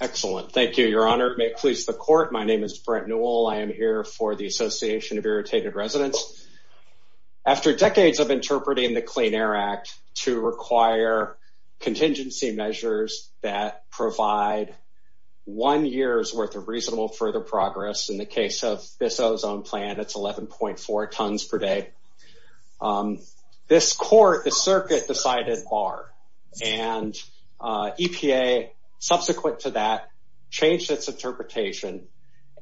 Excellent. Thank you, Your Honor. It may please the court. My name is Brent Newell. I am here for the Association of Irritated Residents. After decades of interpreting the Clean Air Act to require contingency measures that provide one year's worth of reasonable further progress, in the case of this ozone plant it's 11.4 tons per day, this court, the circuit, decided bar and EPA subsequent to that changed its interpretation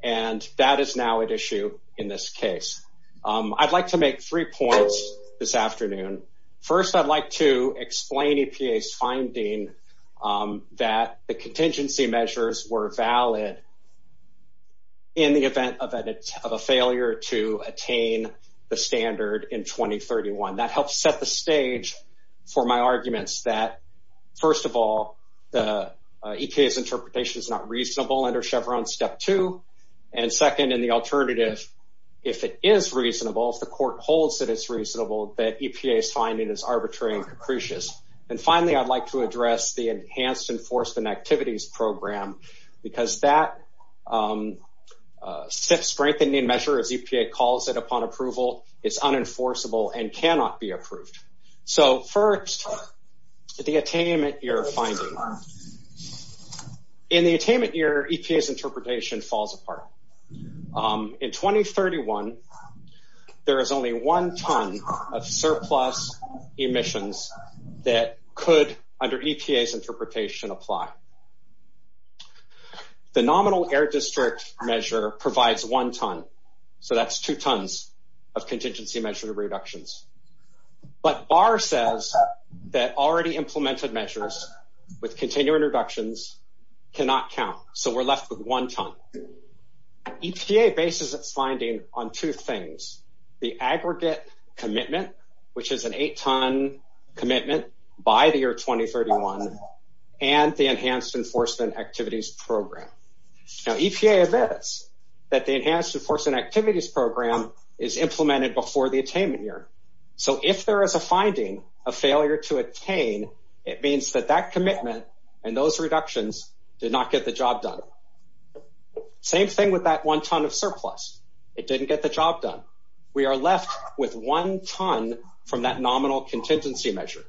and that is now at issue in this case. I'd like to make three points this afternoon. First, I'd like to explain EPA's finding that the contingency measures were valid in the event of a failure to attain the standard in 2031. That helps set the EPA's interpretation is not reasonable under Chevron Step 2. And second, in the alternative, if it is reasonable, if the court holds that it's reasonable, that EPA's finding is arbitrary and capricious. And finally, I'd like to address the Enhanced Enforcement Activities Program because that strengthening measure, as EPA calls it upon approval, is unenforceable and So first, the attainment year finding. In the attainment year, EPA's interpretation falls apart. In 2031, there is only one ton of surplus emissions that could under EPA's interpretation apply. The nominal air district measure provides one ton, so that's two tons of contingency measure reductions. But bar says that already implemented measures with continuing reductions cannot count. So we're left with one ton. EPA bases its finding on two things. The aggregate commitment, which is an eight ton commitment by the year 2031, and the Enhanced Enforcement Activities Program. Now EPA admits that the Enhanced Enforcement Activities Program is implemented before the attainment year. So if there is a finding of failure to attain, it means that that commitment and those reductions did not get the job done. Same thing with that one ton of surplus. It didn't get the job done. We are left with one ton from that nominal contingency measure.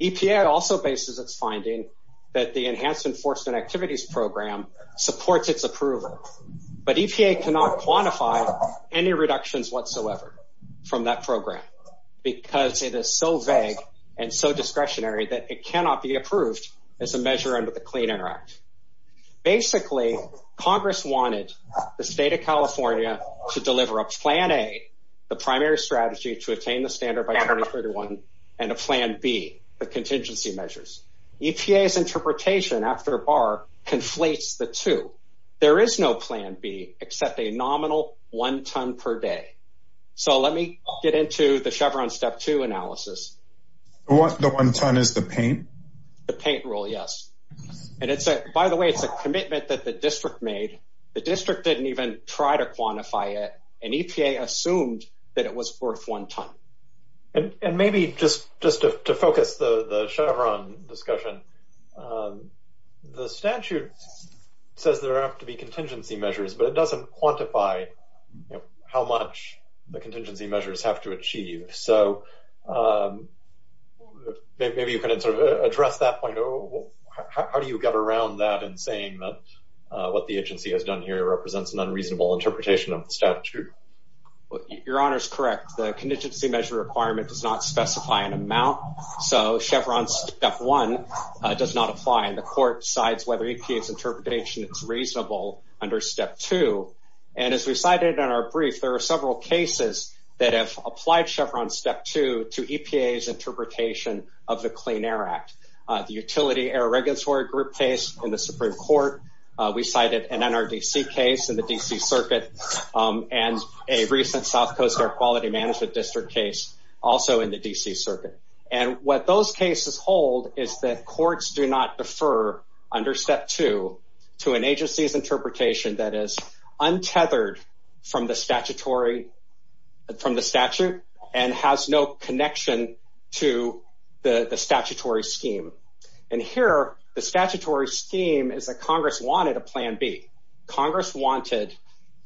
EPA also bases its finding that the Enhanced Enforcement Activities Program supports its approval, but EPA cannot quantify any reductions whatsoever from that program because it is so vague and so discretionary that it cannot be approved as a measure under the Clean Air Act. Basically, Congress wanted the state of California to deliver a plan A, the primary strategy to attain the standard by 2031, and a plan B, the contingency measures. EPA's interpretation after bar conflates the two. There is no plan B except a nominal one ton per day. So let me get into the Chevron Step 2 analysis. The one ton is the paint? The paint rule, yes. And it's a, by the way, it's a commitment that the district made. The district didn't even try to quantify it, and EPA assumed that it was worth one ton. And maybe just to focus the Chevron discussion, the statute says there have to be contingency measures, but it doesn't quantify how much the contingency measures have to achieve. So maybe you can address that point. How do you get around that in saying that what the agency has done here represents an unreasonable interpretation of the statute? Your Honor is correct. The contingency measure requirement does not specify an amount, so Chevron Step 1 does not apply, and the court decides whether to apply it or not. And as we cited in our brief, there are several cases that have applied Chevron Step 2 to EPA's interpretation of the Clean Air Act. The Utility Air Regulatory Group case in the Supreme Court, we cited an NRDC case in the D.C. Circuit, and a recent South Coast Air Quality Management District case also in the D.C. Circuit. And what those cases hold is that courts do not defer under Step 2 to an agency's interpretation that is untethered from the statute and has no connection to the statutory scheme. And here, the statutory scheme is that Congress wanted a Plan B. Congress wanted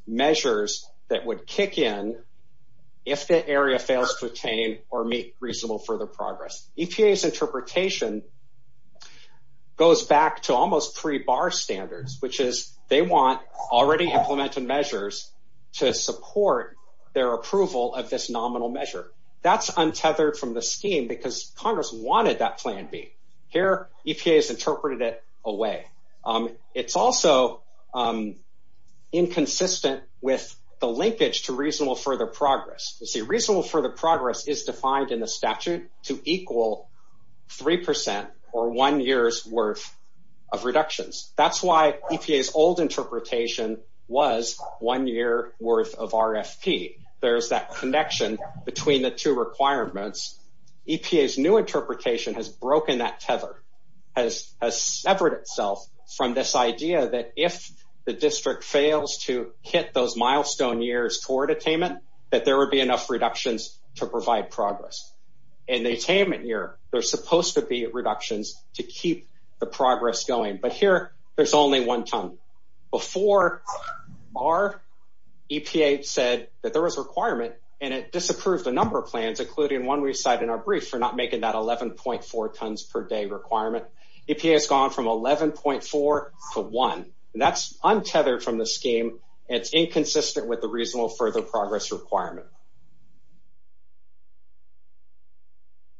measures that would kick in if the area fails to attain or meet reasonable further progress. EPA's goes back to almost three-bar standards, which is they want already implemented measures to support their approval of this nominal measure. That's untethered from the scheme because Congress wanted that Plan B. Here, EPA has interpreted it away. It's also inconsistent with the linkage to reasonable further progress. You see, reasonable further progress is defined in the statute to equal 3% or 1 year's worth of reductions. That's why EPA's old interpretation was 1 year worth of RFP. There's that connection between the two requirements. EPA's new interpretation has broken that tether, has severed itself from this idea that if the district fails to hit those milestone years toward attainment, that there would be enough reductions to provide progress. In the attainment year, there's supposed to be reductions to keep the progress going. But here, there's only one ton. Before, our EPA said that there was a requirement, and it disapproved a number of plans, including one we cite in our brief for not making that 11.4 tons per day requirement. EPA's gone from 11.4 to 1. That's untethered from the scheme, and it's inconsistent with the reasonable further progress requirement.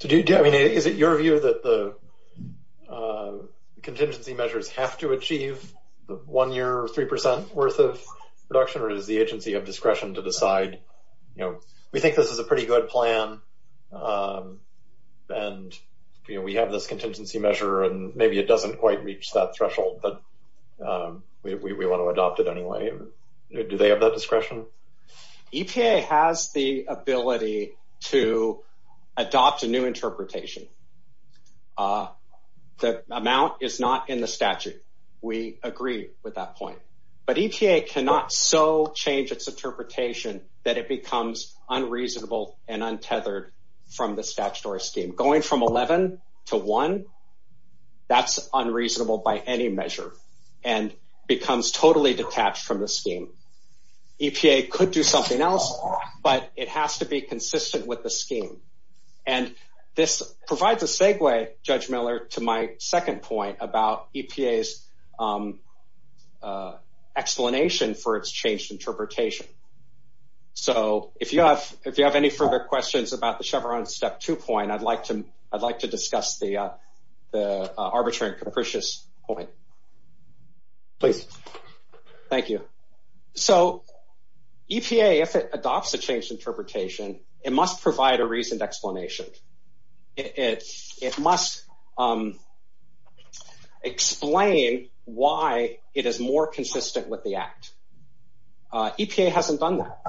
I mean, is it your view that the contingency measures have to achieve 1 year or 3% worth of reduction, or is the agency of discretion to decide, you know, we think this is a pretty good plan, and we have this contingency measure, and maybe it doesn't quite reach that threshold, but we want to adopt it anyway. Do they have that discretion? EPA has the ability to adopt a new interpretation. The amount is not in the statute. We agree with that point. But EPA cannot so change its interpretation that it becomes unreasonable and untethered from the statutory scheme. Going from 11 to 1, that's unreasonable by any measure and becomes totally detached from the scheme. EPA could do something else, but it has to be consistent with the scheme. And this provides a segue, Judge Miller, to my second point about EPA's explanation for its changed interpretation. So if you have any further questions about the Chevron Step 2 point, I'd like to discuss the arbitrary and capricious point. Please. Thank you. So EPA, if it adopts a changed interpretation, it must provide a reasoned explanation. It must explain why it is more consistent with the Act. EPA hasn't done that.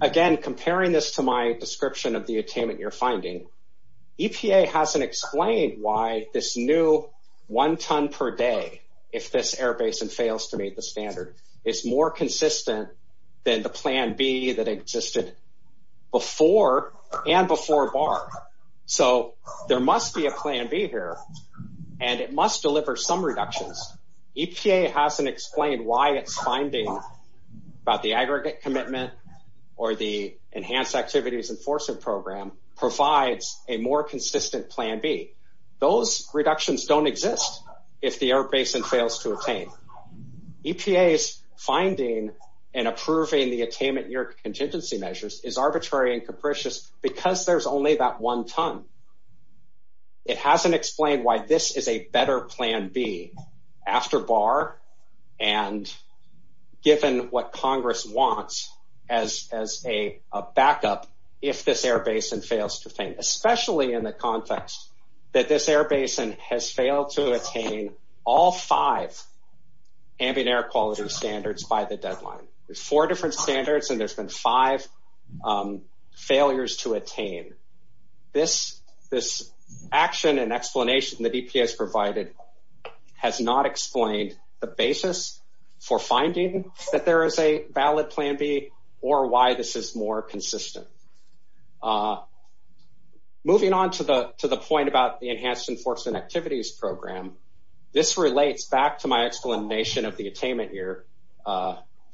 Again, comparing this to my description of the attainment you're explaining why this new one ton per day, if this air basin fails to meet the standard, is more consistent than the Plan B that existed before and before BAR. So there must be a Plan B here, and it must deliver some reductions. EPA hasn't explained why it's finding about the aggregate commitment or the Enhanced Activities Enforcement Program provides a more consistent Plan B. Those reductions don't exist if the air basin fails to attain. EPA's finding and approving the attainment year contingency measures is arbitrary and capricious because there's only that one ton. It hasn't explained why this is a Congress wants as a backup if this air basin fails to attain, especially in the context that this air basin has failed to attain all five ambient air quality standards by the deadline. There's four different standards, and there's been five failures to attain. This action and explanation that EPA has provided has not explained the basis for finding that there is a valid Plan B or why this is more consistent. Moving on to the point about the Enhanced Enforcement Activities Program, this relates back to my explanation of the attainment year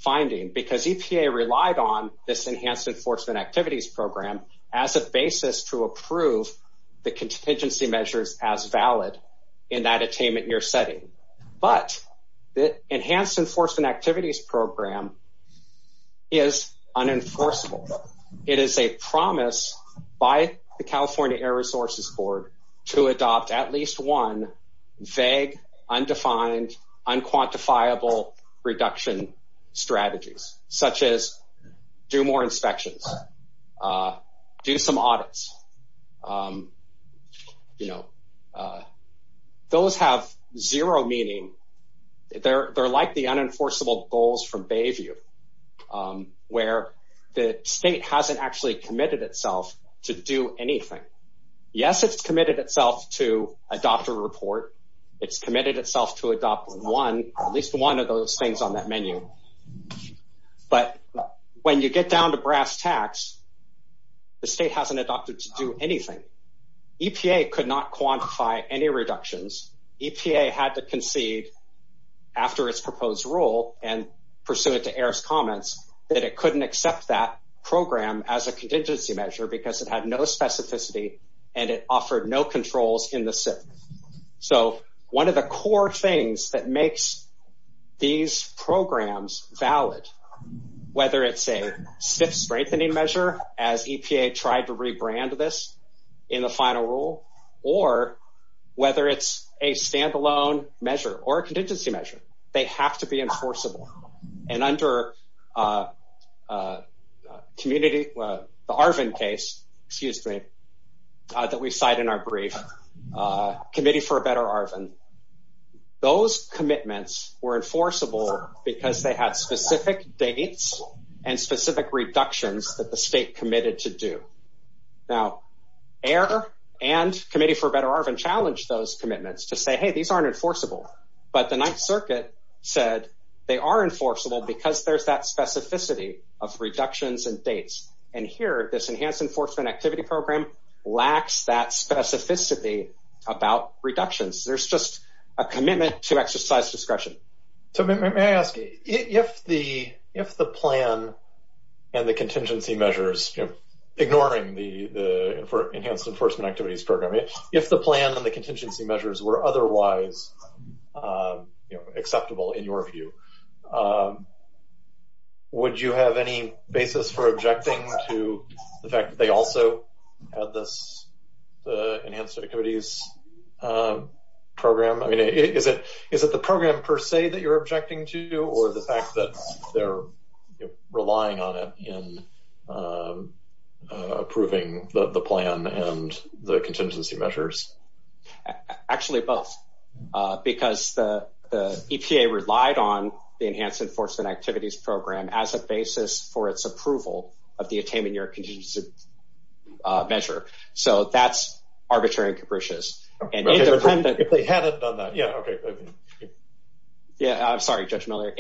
finding because EPA relied on this Enhanced Enforcement Activities Program as a basis to approve the contingency measures as valid in that attainment year setting. But the Enhanced Enforcement Activities Program is unenforceable. It is a promise by the California Air Resources Board to adopt at least one vague, undefined, unquantifiable reduction strategies such as do more inspections, do some audits. Those have zero meaning. They're like the unenforceable goals from Bayview where the state hasn't actually committed itself to do anything. Yes, it's committed itself to adopt a report. It's when you get down to brass tacks, the state hasn't adopted to do anything. EPA could not quantify any reductions. EPA had to concede after its proposed rule and pursuant to airs comments that it couldn't accept that program as a contingency measure because it had no specificity and it offered no controls in the SIF. So one of the core things that makes these programs valid, whether it's a stiff strengthening measure as EPA tried to rebrand this in the final rule, or whether it's a standalone measure or a contingency measure, they have to be enforceable. And under the Arvin case, excuse me, that we cite in my brief, Committee for a Better Arvin, those commitments were enforceable because they had specific dates and specific reductions that the state committed to do. Now, air and Committee for a Better Arvin challenged those commitments to say, Hey, these aren't enforceable. But the Ninth Circuit said they are enforceable because there's that specificity of reductions and dates. And here, this Enhanced Enforcement Activity Program lacks that specificity about reductions. There's just a commitment to exercise discretion. So may I ask, if the plan and the contingency measures, ignoring the Enhanced Enforcement Activities Program, if the plan and the contingency measures were otherwise acceptable in your view, would you have any basis for objecting to the fact that they also had this Enhanced Enforcement Activities Program? I mean, is it the program per se that you're objecting to, or the fact that they're relying on it in approving the plan and the contingency measures? Actually, both. Because the EPA relied on the Enhanced Enforcement Activities Program as a basis for its approval of the attainment year contingency measure. So that's arbitrary and capricious. Okay, if they hadn't done that. Yeah, okay. Yeah, I'm sorry, Judge Miller.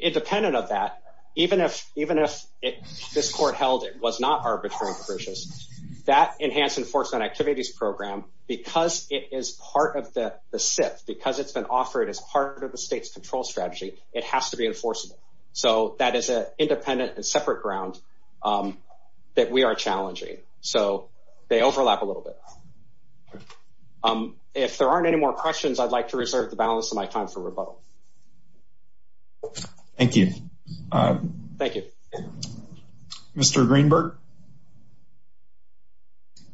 Independent of that, even if this court held it was not arbitrary and capricious, that Enhanced Enforcement Activities Program, because it is part of the SIF, because it's been offered as part of the state's control strategy, it has to be enforceable. So that is an independent and separate ground that we are challenging. So they overlap a little bit. If there aren't any more questions, I'd like to reserve the balance of my time for rebuttal. Thank you. Thank you. Mr. Greenberg,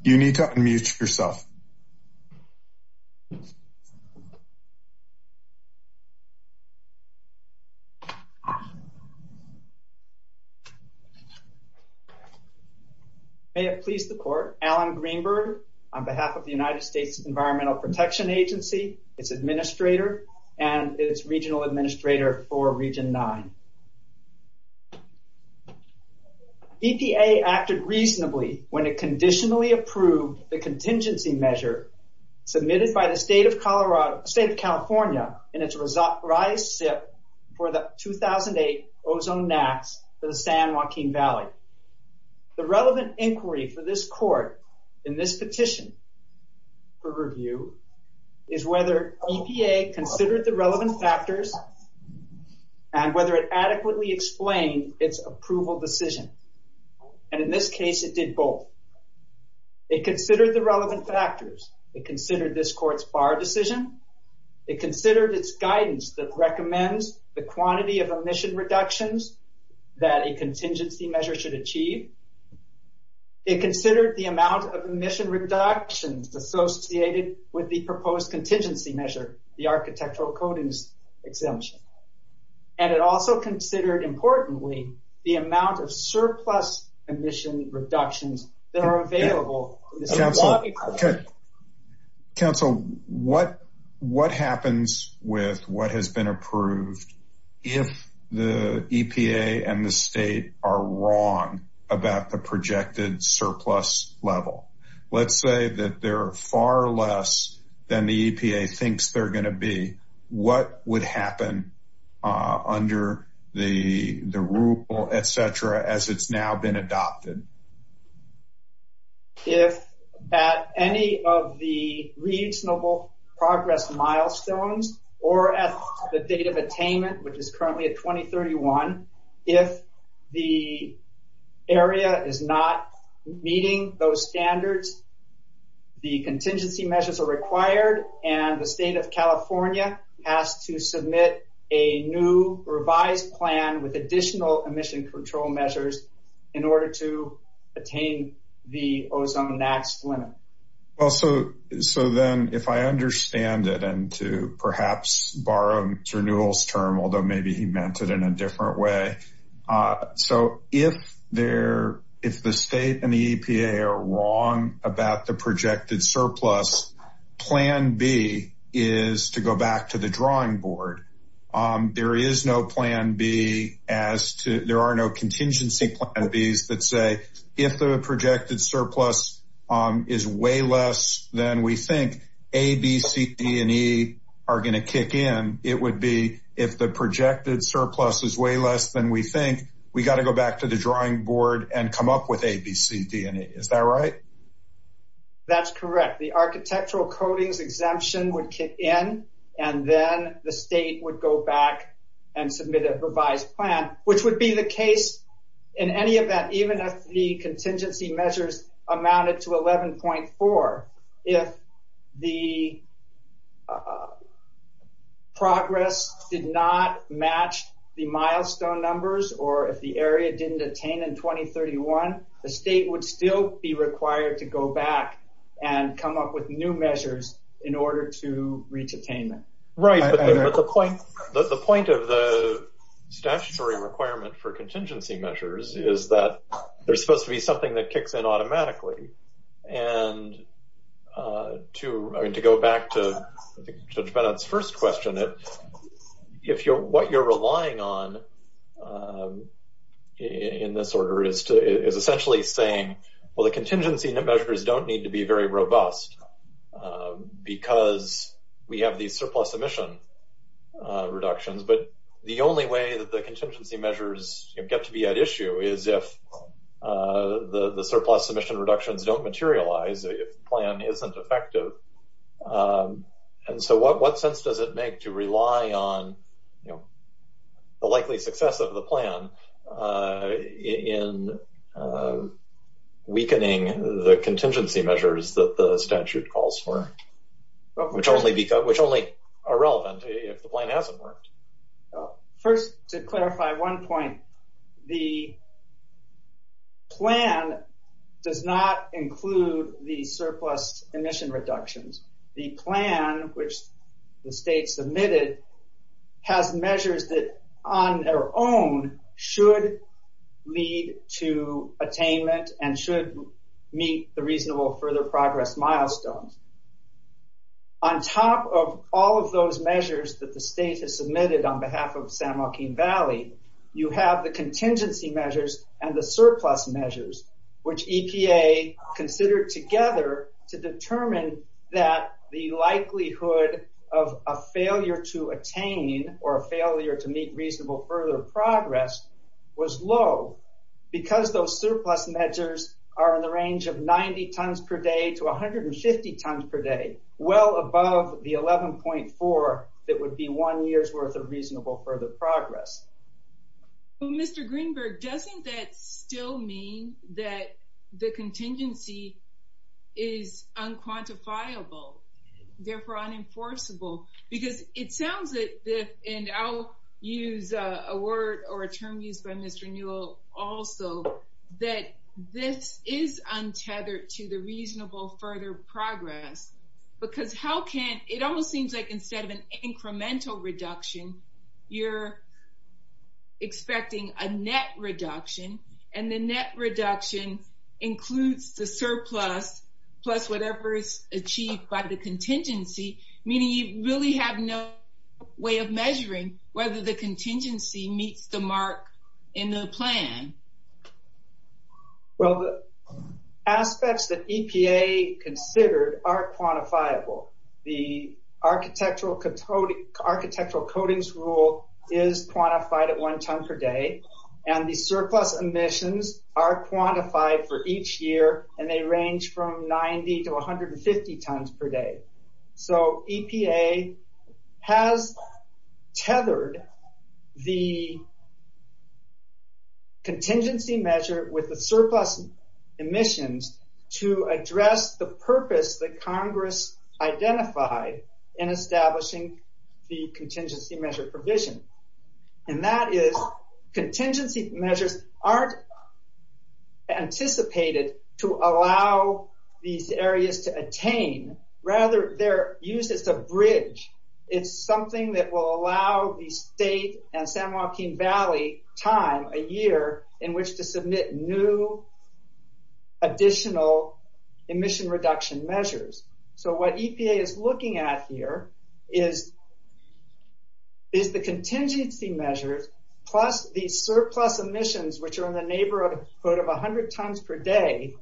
you need to unmute yourself. May it please the court, Alan Greenberg, on behalf of the United States Environmental Protection Agency, its administrator, and its regional administrator for Region 9. EPA acted reasonably when it conditionally approved the contingency measure submitted by the state of California in its revised SIF for the 2008 ozone NAAQS for the San Joaquin Valley. The relevant inquiry for this court in this petition for review is whether EPA considered the relevant factors and whether it adequately explained its approval decision. And in this case, it did both. It considered the relevant factors. It considered this court's bar decision. It considered its guidance that recommends the quantity of emission reductions that a contingency measure should achieve. It considered the amount of emission reductions associated with the proposed contingency measure, the architectural coatings exemption. And it also considered, importantly, the amount of surplus emission reductions that are available. Counsel, what happens with what has been approved if the EPA and the state are wrong about the projected surplus level? Let's say that they're far less than the EPA thinks they're going to be. What would happen under the rule, et cetera, as it's now been adopted? If at any of the reasonable progress milestones or at the date of attainment, which is currently at 2031, if the area is not meeting those standards, the EPA is required and the state of California has to submit a new revised plan with additional emission control measures in order to attain the ozone max limit. Also, so then if I understand it and to perhaps borrow Mr. Newell's term, although maybe he meant it in a different way. So if the state and the plan B is to go back to the drawing board, there is no plan B as to, there are no contingency plan Bs that say if the projected surplus is way less than we think, A, B, C, D, and E are going to kick in. It would be if the projected surplus is way less than we think, we got to go back to the drawing board and come up with A, B, C, D, and E. Is that right? That's correct. The architectural coatings exemption would kick in and then the state would go back and submit a revised plan, which would be the case in any event, even if the contingency measures amounted to 11.4. If the progress did not match the milestone numbers or if the area didn't attain in 2031, the state would still be required to go back and come up with new measures in order to reach attainment. Right. But the point of the statutory requirement for contingency measures is that there's supposed to be something that kicks in automatically. And to go back to Judge Bennett's first question, if what you're saying is essentially saying, well, the contingency measures don't need to be very robust because we have these surplus emission reductions. But the only way that the contingency measures get to be at issue is if the surplus emission reductions don't materialize, the plan isn't effective. And so what sense does it make to rely on the likely success of the plan in weakening the contingency measures that the statute calls for, which only are relevant if the plan hasn't worked? First, to clarify one point, the plan does not include the surplus emission reductions. The plan, which the state submitted, has measures that on their own should lead to attainment and should meet the reasonable further progress milestones. On top of all of those measures that the state has submitted on behalf of San Joaquin Valley, you have the contingency measures and the surplus measures, which EPA considered together to determine that the likelihood of a failure to attain or a failure to meet reasonable further progress was low because those surplus measures are in the range of 90 tons per day to 150 tons per day, well above the 11.4 that would be one year's worth of surplus. Does that still mean that the contingency is unquantifiable, therefore unenforceable? Because it sounds that, and I'll use a word or a term used by Mr. Newell also, that this is untethered to the reasonable further progress because how can... It almost seems like instead of an incremental reduction, you're expecting a net reduction and the net reduction includes the surplus plus whatever is achieved by the contingency, meaning you really have no way of measuring whether the contingency meets the mark in the plan. Well, the aspects that EPA considered are quantifiable. The architectural coatings rule is quantified at one ton per day and the surplus emissions are quantified for each year and they range from 90 to 150 tons per year. The contingency measure with the surplus emissions to address the purpose that Congress identified in establishing the contingency measure provision and that is contingency measures aren't anticipated to allow these areas to attain, rather they're used as a bridge. It's something that will allow the state and San Joaquin Valley time, a year in which to submit new additional emission reduction measures. So what EPA is looking at here is the contingency measures plus the surplus emissions which are in the neighborhood of 100 tons per day,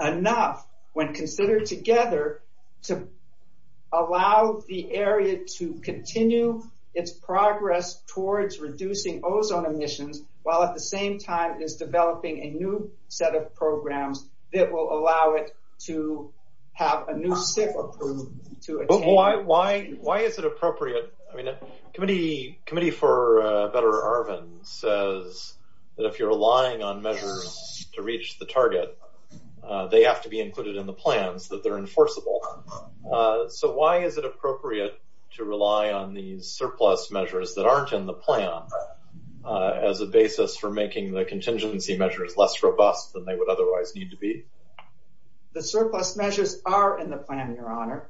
enough when considered together to allow the area to continue its progress towards reducing ozone emissions while at the same time is developing a new set of programs that will allow it to have a new SIP approved to attain... But why is it appropriate? I mean, the Committee for a Better Arvin says that if you're relying on measures to reach the target, they have to be included in the plans, that they're enforceable. So why is it appropriate to include surplus measures that aren't in the plan as a basis for making the contingency measures less robust than they would otherwise need to be? The surplus measures are in the plan, your honor.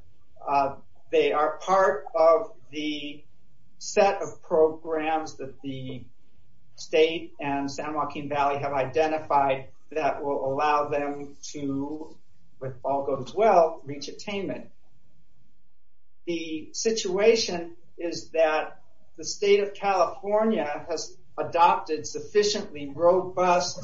They are part of the set of programs that the state and San Joaquin Valley have identified that will allow them to, if all goes well, reach attainment. The situation is that the state of California has adopted sufficiently robust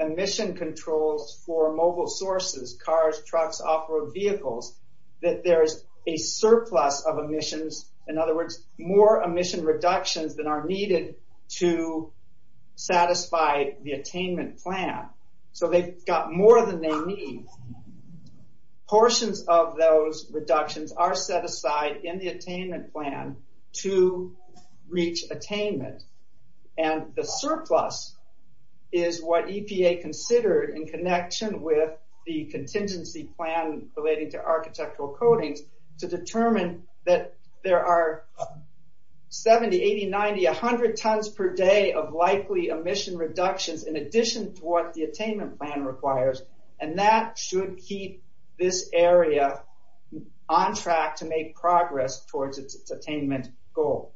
emission controls for mobile sources, cars, trucks, off-road vehicles, that there's a surplus of emissions, in other words, more emission reductions than are needed to satisfy the attainment plan. So they've got more than they need. Portions of those reductions are set aside in the attainment plan to reach attainment and the surplus is what EPA considered in connection with the contingency plan relating to architectural coatings to determine that there are 70, 80, 90, 100 tons per day of likely emission reductions in addition to what the attainment plan requires and that should keep this area on track to make progress towards its attainment goal.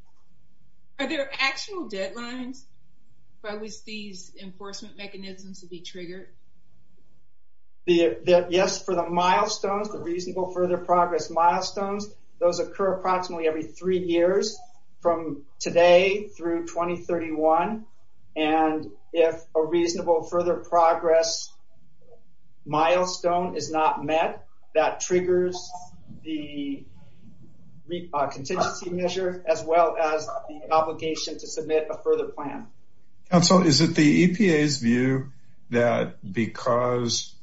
Are there actual deadlines for these enforcement mechanisms to be triggered? Yes, for the milestones, the reasonable further progress milestones, those occur approximately every three years from today through 2031 and if a reasonable further progress milestone is not met, that triggers the contingency measure as well as the obligation to submit a further plan. Council, is it the EPA's view that because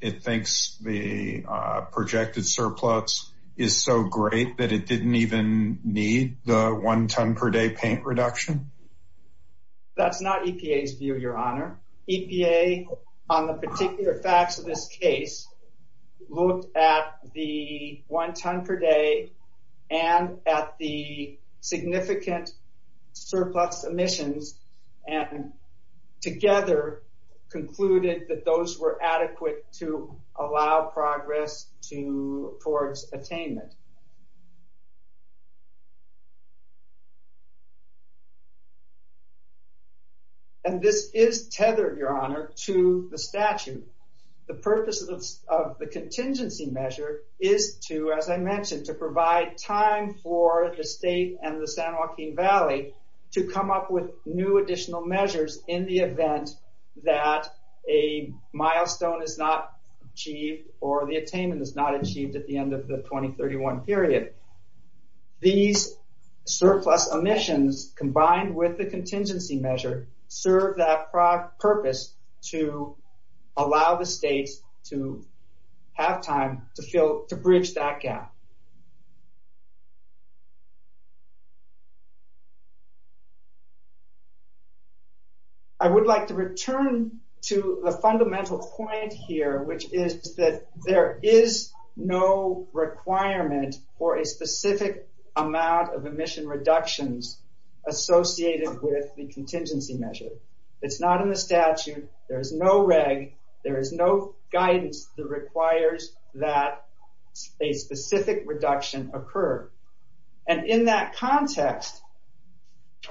it thinks the projected surplus is so great that it didn't even need the one ton per day paint reduction? That's not EPA's view, your honor. EPA, on the particular facts of this case, looked at the one ton per day and at the significant surplus emissions and together concluded that those were adequate to allow progress to towards attainment. And this is tethered, your honor, to the statute. The purpose of the contingency measure is to, as I mentioned, to provide time for the state and the San Joaquin Valley to come up with new additional measures in the event that a milestone is not achieved or the attainment is not achieved at the end of the 2031 period. These surplus emissions combined with the contingency measure serve that purpose to allow the states to have time to bridge that gap. I would like to return to the fundamental point here, which is that there is no requirement for a specific amount of emission reductions associated with the contingency measure. It's not in the statute, there is no reg, there is no guidance that requires that a specific reduction occur. And in that context,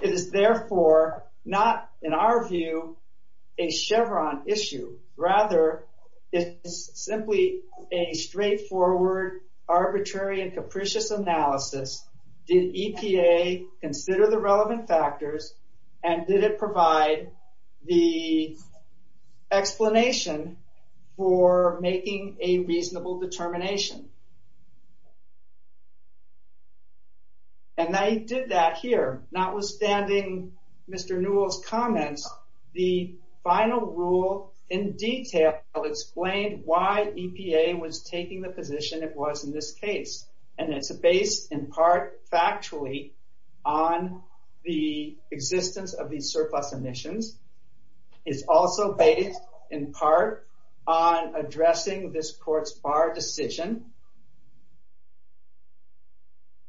it is therefore not, in our view, a Chevron issue. Rather, it is simply a straightforward, arbitrary, and capricious analysis. Did EPA consider the relevant factors and did it provide the explanation for making a reasonable determination? And they did that here. Notwithstanding Mr. Newell's comments, the final rule in detail explained why EPA was taking the position it was in this existence of these surplus emissions. It's also based, in part, on addressing this court's bar decision.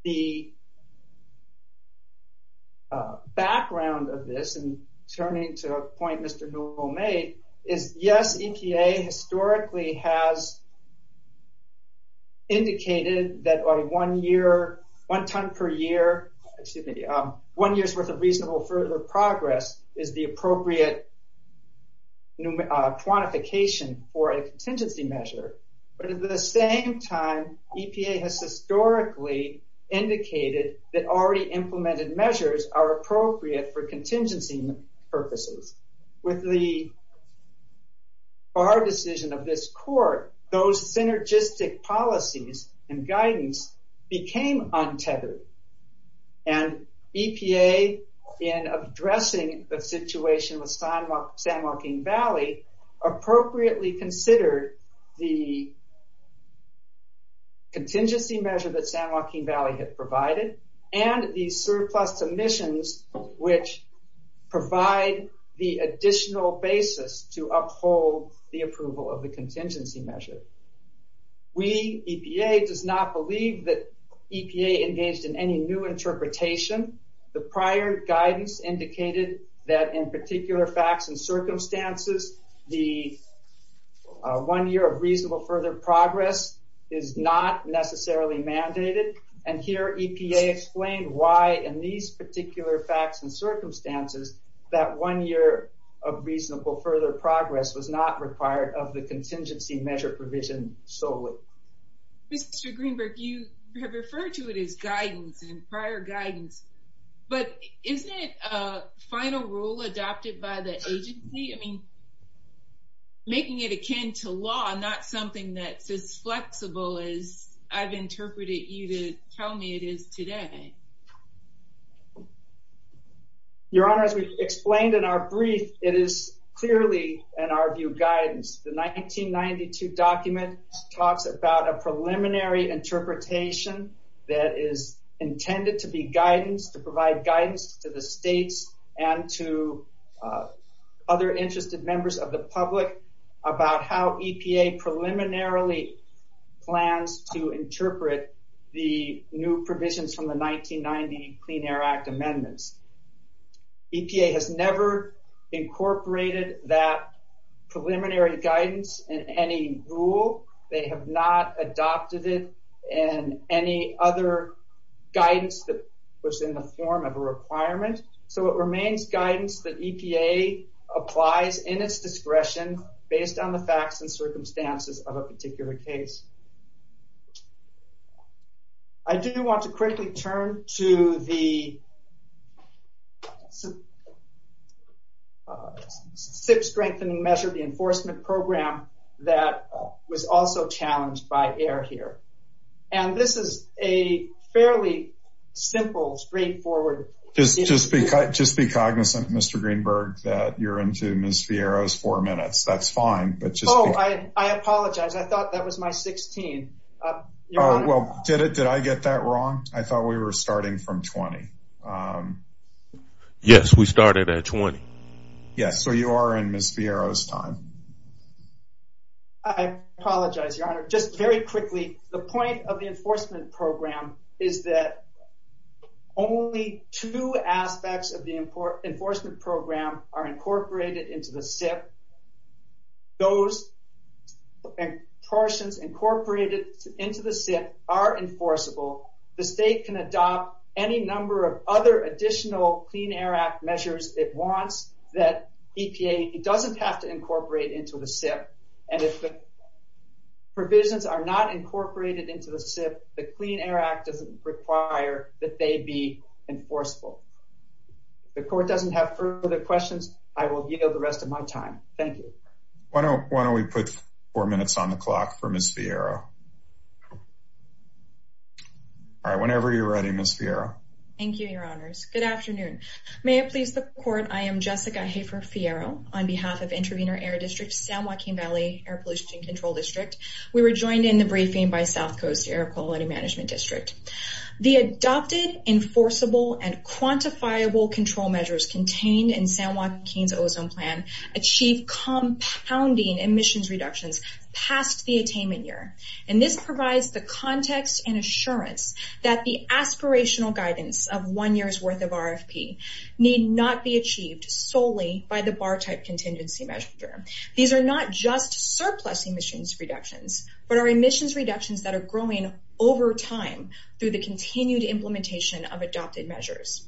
The background of this, and turning to a point Mr. Newell made, is yes, EPA historically has indicated that by one year, one ton per year, excuse me, one year's worth of reasonable further progress is the appropriate quantification for a contingency measure. But at the same time, EPA has historically indicated that already implemented measures are appropriate for contingency purposes. With the bar decision of this court, those and EPA in addressing the situation with San Joaquin Valley, appropriately considered the contingency measure that San Joaquin Valley had provided and the surplus emissions which provide the additional basis to uphold the approval of the contingency measure. We, EPA, does not believe that EPA engaged in any new interpretation. The prior guidance indicated that in particular facts and circumstances, the one year of reasonable further progress is not necessarily mandated. And here EPA explained why in these particular facts and circumstances that one year of reasonable further progress was not required of the contingency measure provision solely. Mr. Greenberg, you have referred to it as prior guidance, but isn't it a final rule adopted by the agency? I mean, making it akin to law, not something that's as flexible as I've interpreted you to tell me it is today. Your Honor, as we explained in our brief, it is clearly, in our view, guidance. The 1992 document talks about a preliminary interpretation that is intended to be guidance, to provide guidance to the states and to other interested members of the public about how EPA preliminarily plans to interpret the new provisions from the 1990 Clean Air Act amendments. EPA has never incorporated that preliminary guidance in any rule. They have not adopted it in any other guidance that was in the form of a requirement. So it remains guidance that EPA applies in its discretion based on the facts and circumstances of a particular case. I do want to quickly turn to the SIP strengthening measure, the enforcement program that was also challenged by AIR here. And this is a fairly simple, straightforward. Just be cognizant, Mr. Greenberg, that you're into Ms. Fierro's four minutes. That's fine, but just... Oh, I apologize. I thought that was my 16. Well, did I get that wrong? I thought we were starting from 20. Yes, we started at 20. Yes, so you are in Ms. Fierro's time. I apologize, Your Honor. Just very quickly, the point of the enforcement program is that only two aspects of the enforcement program are incorporated into the SIP. Those portions incorporated into the SIP are enforceable. The state can adopt any number of other additional Clean Air Act measures it wants that EPA doesn't have to incorporate into the SIP. And if the provisions are not incorporated into the SIP, the Clean Air Act doesn't require that they be enforceable. If the court doesn't have further questions, I will yield the rest of my time. Thank you. Why don't we put four minutes on the clock for Ms. Fierro? All right, whenever you're ready, Ms. Fierro. Thank you, Your Honor. Good morning. Good morning, everyone. My name is Jessica Hafer Fierro. On behalf of Intervenor Air District, San Joaquin Valley Air Pollution Control District, we were joined in the briefing by South Coast Air Quality Management District. The adopted, enforceable, and quantifiable control measures contained in San Joaquin's ozone plan achieved compounding emissions reductions past the attainment year. And this provides the context and assurance that the aspirational guidance of one year's worth of RFP need not be achieved solely by the bar-type contingency measure. These are not just surplus emissions reductions, but are emissions reductions that are growing over time through the continued implementation of adopted measures.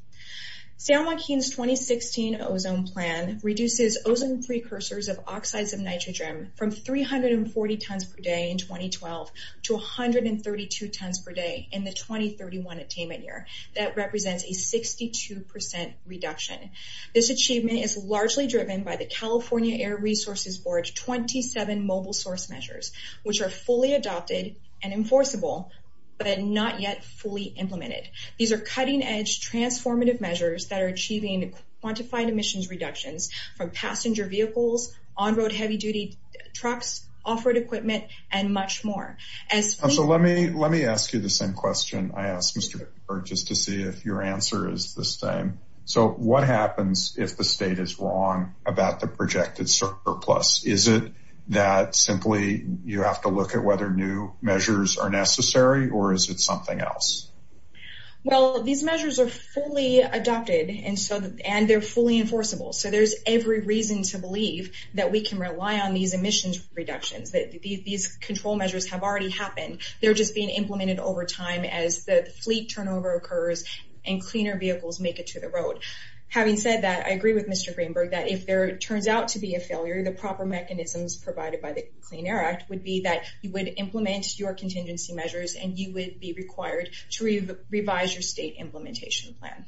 San Joaquin's 2016 ozone plan reduces ozone precursors of oxides of nitrogen from 340 tons per day in 2012 to 132 tons per day in the 2031 attainment year. That represents a 62% reduction. This achievement is largely driven by the California Air Resources Board's 27 mobile source measures, which are fully adopted and enforceable, but not yet fully implemented. These are cutting-edge, transformative measures that are vehicles, on-road heavy-duty trucks, off-road equipment, and much more. So let me ask you the same question I asked Mr. Pickford, just to see if your answer is the same. So what happens if the state is wrong about the projected surplus? Is it that simply you have to look at whether new measures are necessary, or is it something else? Well, these measures are fully adopted, and they're fully enforceable. So there's every reason to believe that we can rely on these emissions reductions, that these control measures have already happened. They're just being implemented over time as the fleet turnover occurs and cleaner vehicles make it to the road. Having said that, I agree with Mr. Greenberg that if there turns out to be a failure, the proper mechanisms provided by the Clean Air Act would be that you would implement your contingency measures and you would be required to revise your state implementation plan.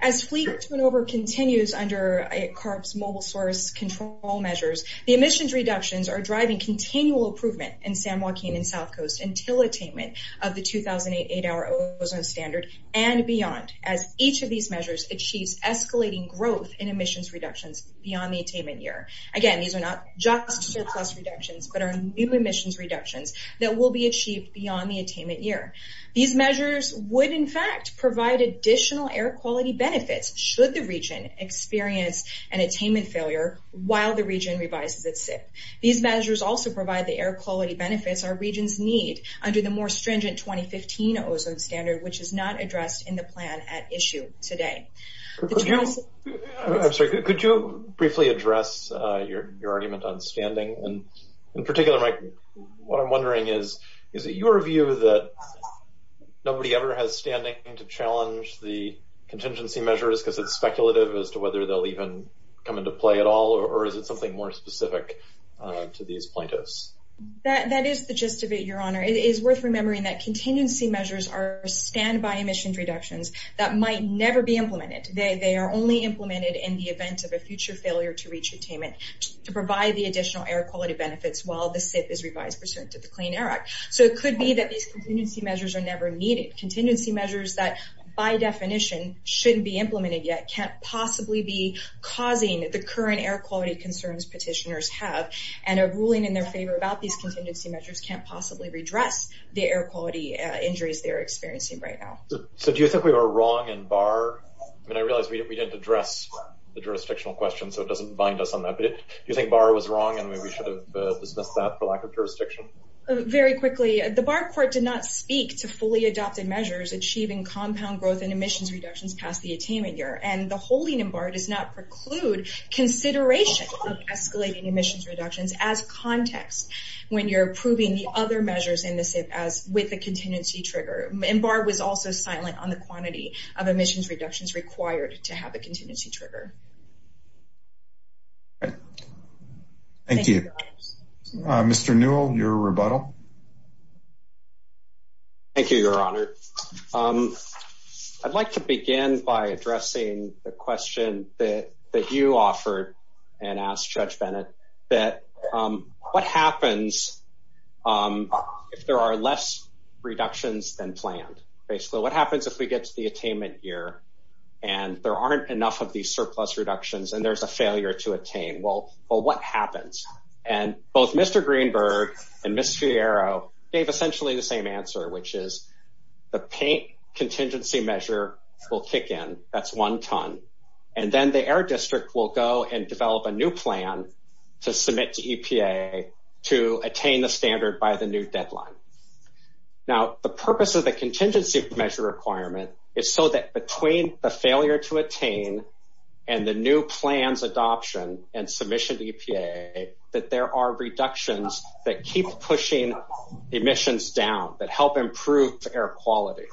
As fleet turnover continues under CARB's mobile source control measures, the emissions reductions are driving continual improvement in San Joaquin and South Coast until attainment of the 2008 8-hour ozone standard and beyond, as each of these measures achieves escalating growth in emissions reductions beyond the attainment year. Again, these are not just surplus reductions, but are new emissions reductions that will be achieved beyond the attainment year. These measures would, in fact, provide additional air quality benefits should the region experience an attainment failure while the region revises its SIP. These measures also provide the air quality benefits our regions need under the more stringent 2015 ozone standard, which is not addressed in the plan at issue today. Could you briefly address your argument on standing? In particular, what I'm wondering is, is it your view that nobody ever has standing to challenge the contingency measures because it's speculative as to whether they'll even come into play at all, or is it something more specific to these plaintiffs? That is the gist of it, Your Honor. It is worth remembering that contingency measures are standby emissions reductions that might never be implemented. They are only implemented in the event of a future failure to reach attainment to provide the additional air quality benefits while the SIP is revised pursuant to the Clean Air Act. So it could be that these contingency measures are never needed. Contingency measures that, by definition, shouldn't be implemented yet can't possibly be causing the current air quality concerns petitioners have, and a ruling in their favor about these contingency measures can't possibly redress the air quality injuries they're experiencing right now. So do you think we were wrong in Barr? I mean, I realize we didn't address the jurisdictional question, so it doesn't bind us on that, but do you think Barr was wrong and we should have dismissed that for lack of jurisdiction? Very quickly, the Barr court did not speak to fully adopted measures achieving compound growth in emissions reductions past the attainment year, and the holding in Barr does not preclude consideration of escalating emissions reductions as context when you're approving the other measures in the SIP as with the contingency trigger. And Barr was also silent on the quantity of emissions reductions required to have a contingency trigger. Thank you. Mr. Newell, your rebuttal. Thank you, Your Honor. I'd like to begin by addressing the question that you offered and asked Judge Bennett, that what happens if there are less reductions than planned? Basically, what happens if we get to the attainment year and there aren't enough of these surplus reductions and there's a failure to attain? Well, what happens? And both Mr. Greenberg and Ms. Fierro gave essentially the same answer, which is the paint contingency measure will kick in, that's one ton, and then the Air District will go and develop a new plan to submit to EPA to attain the standard by the new deadline. Now, the purpose of the contingency measure requirement is so that between the failure to attain and the new plans adoption and submission to EPA that there are reductions that keep pushing emissions down, that help improve air quality.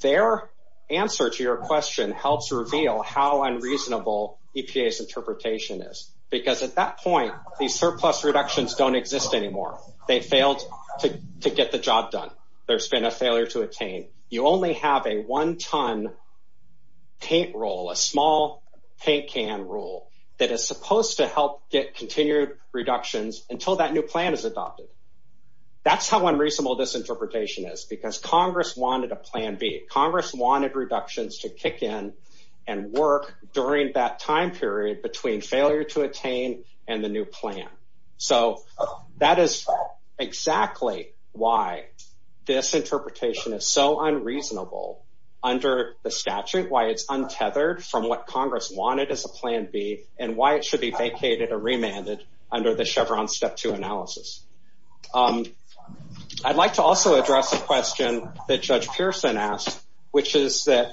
Their answer to your question helps reveal how unreasonable EPA's interpretation is, because at that point, these surplus reductions don't exist anymore. They failed to get the job done. There's been a failure to attain. You only have a one-ton paint rule, a small paint can rule that is supposed to help get continued reductions until that new plan is adopted. That's how unreasonable this interpretation is, because Congress wanted a plan B. Congress wanted reductions to kick in and work during that time period between failure to attain and the new plan. So that is exactly why this interpretation is so unreasonable under the statute, why it's untethered from what Congress wanted as a plan B and why it should be vacated or remanded under the Chevron Step 2 analysis. I'd like to also address a question that Judge Pearson asked, which is that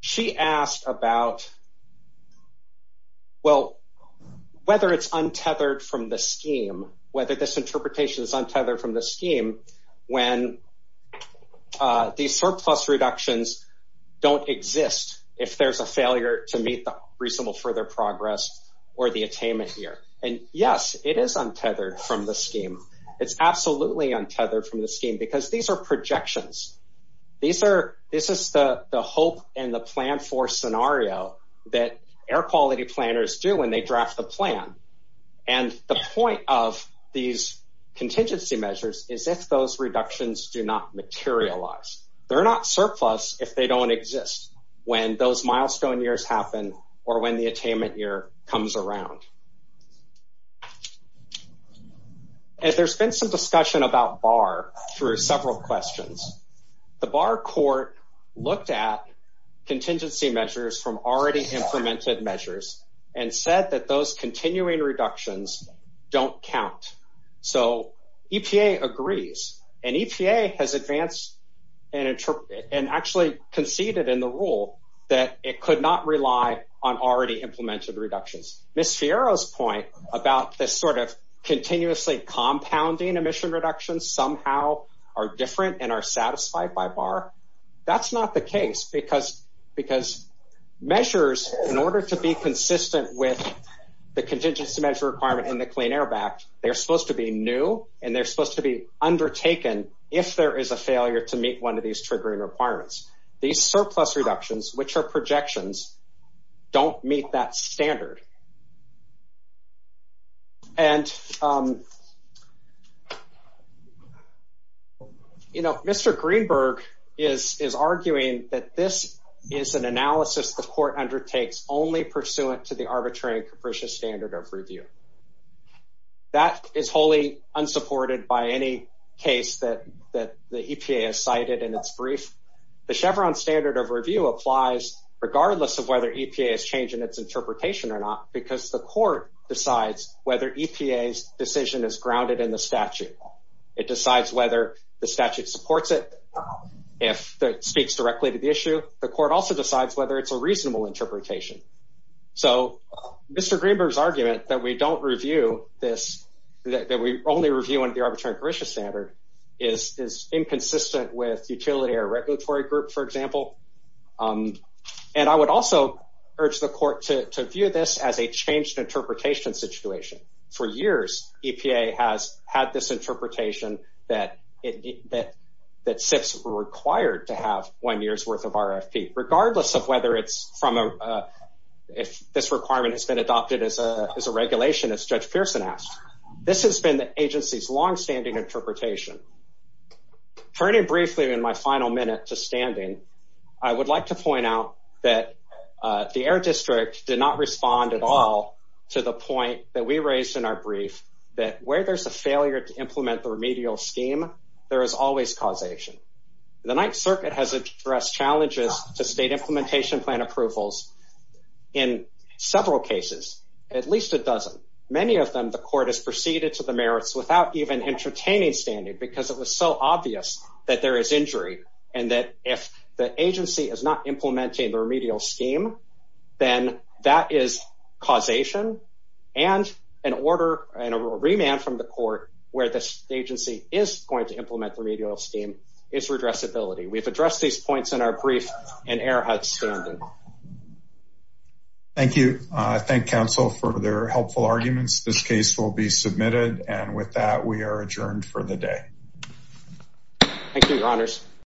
she asked about, well, whether it's untethered from the scheme, whether this interpretation is untethered from the scheme when these are projections. These are, this is the hope and the plan for scenario that air quality planners do when they draft the plan. And the point of these contingency measures is if those reductions do not materialize. They're not surplus if they don't exist. When those milestone years happen or when they don't materialize, that's when the attainment year comes around. And there's been some discussion about BAR through several questions. The BAR court looked at contingency measures from already implemented measures and said that those continuing reductions don't count. So EPA agrees. And EPA has advanced and actually conceded in the rule that it could not rely on already implemented reductions. Ms. Fierro's point about this sort of continuously compounding emission reductions somehow are different and are satisfied by BAR. That's not the case because measures, in order to be consistent with the contingency measure requirement in the Clean Air Act, they're supposed to be new and they're supposed to be undertaken if there is a failure to meet one of these triggering requirements. These surplus reductions, which are projections, don't meet that standard. And Mr. Greenberg is arguing that this is an analysis the court undertakes only pursuant to the arbitrary and capricious standard of review. That is wholly unsupported by any case that the EPA has cited in its brief. The Chevron standard of review applies regardless of whether EPA has changed in its interpretation or not because the court decides whether EPA's decision is grounded in the statute. It decides whether the statute supports it if it speaks directly to the issue. The court also decides whether it's a reasonable interpretation. So Mr. Greenberg's argument that we only review under the arbitrary and capricious standard is inconsistent with utility or regulatory group, for example. And I would also urge the court to view this as a changed interpretation situation. For years, EPA has had this interpretation that SIPs were required to have one year's worth of if this requirement has been adopted as a regulation, as Judge Pearson asked. This has been the agency's longstanding interpretation. Turning briefly in my final minute to standing, I would like to point out that the Air District did not respond at all to the point that we raised in our brief that where there's a failure to implement the remedial scheme, there is always causation. The Ninth Circuit has addressed challenges to state implementation plan approvals in several cases, at least a dozen. Many of them the court has proceeded to the merits without even entertaining standing because it was so obvious that there is injury and that if the agency is not implementing the remedial scheme, then that is causation and an order and a remand from the court where this agency is going to implement the remedial scheme is addressability. We've addressed these points in our brief and Air Hutt's standing. Thank you. I thank counsel for their helpful arguments. This case will be submitted. And with that, we are adjourned for the day. Thank you, Your Honors.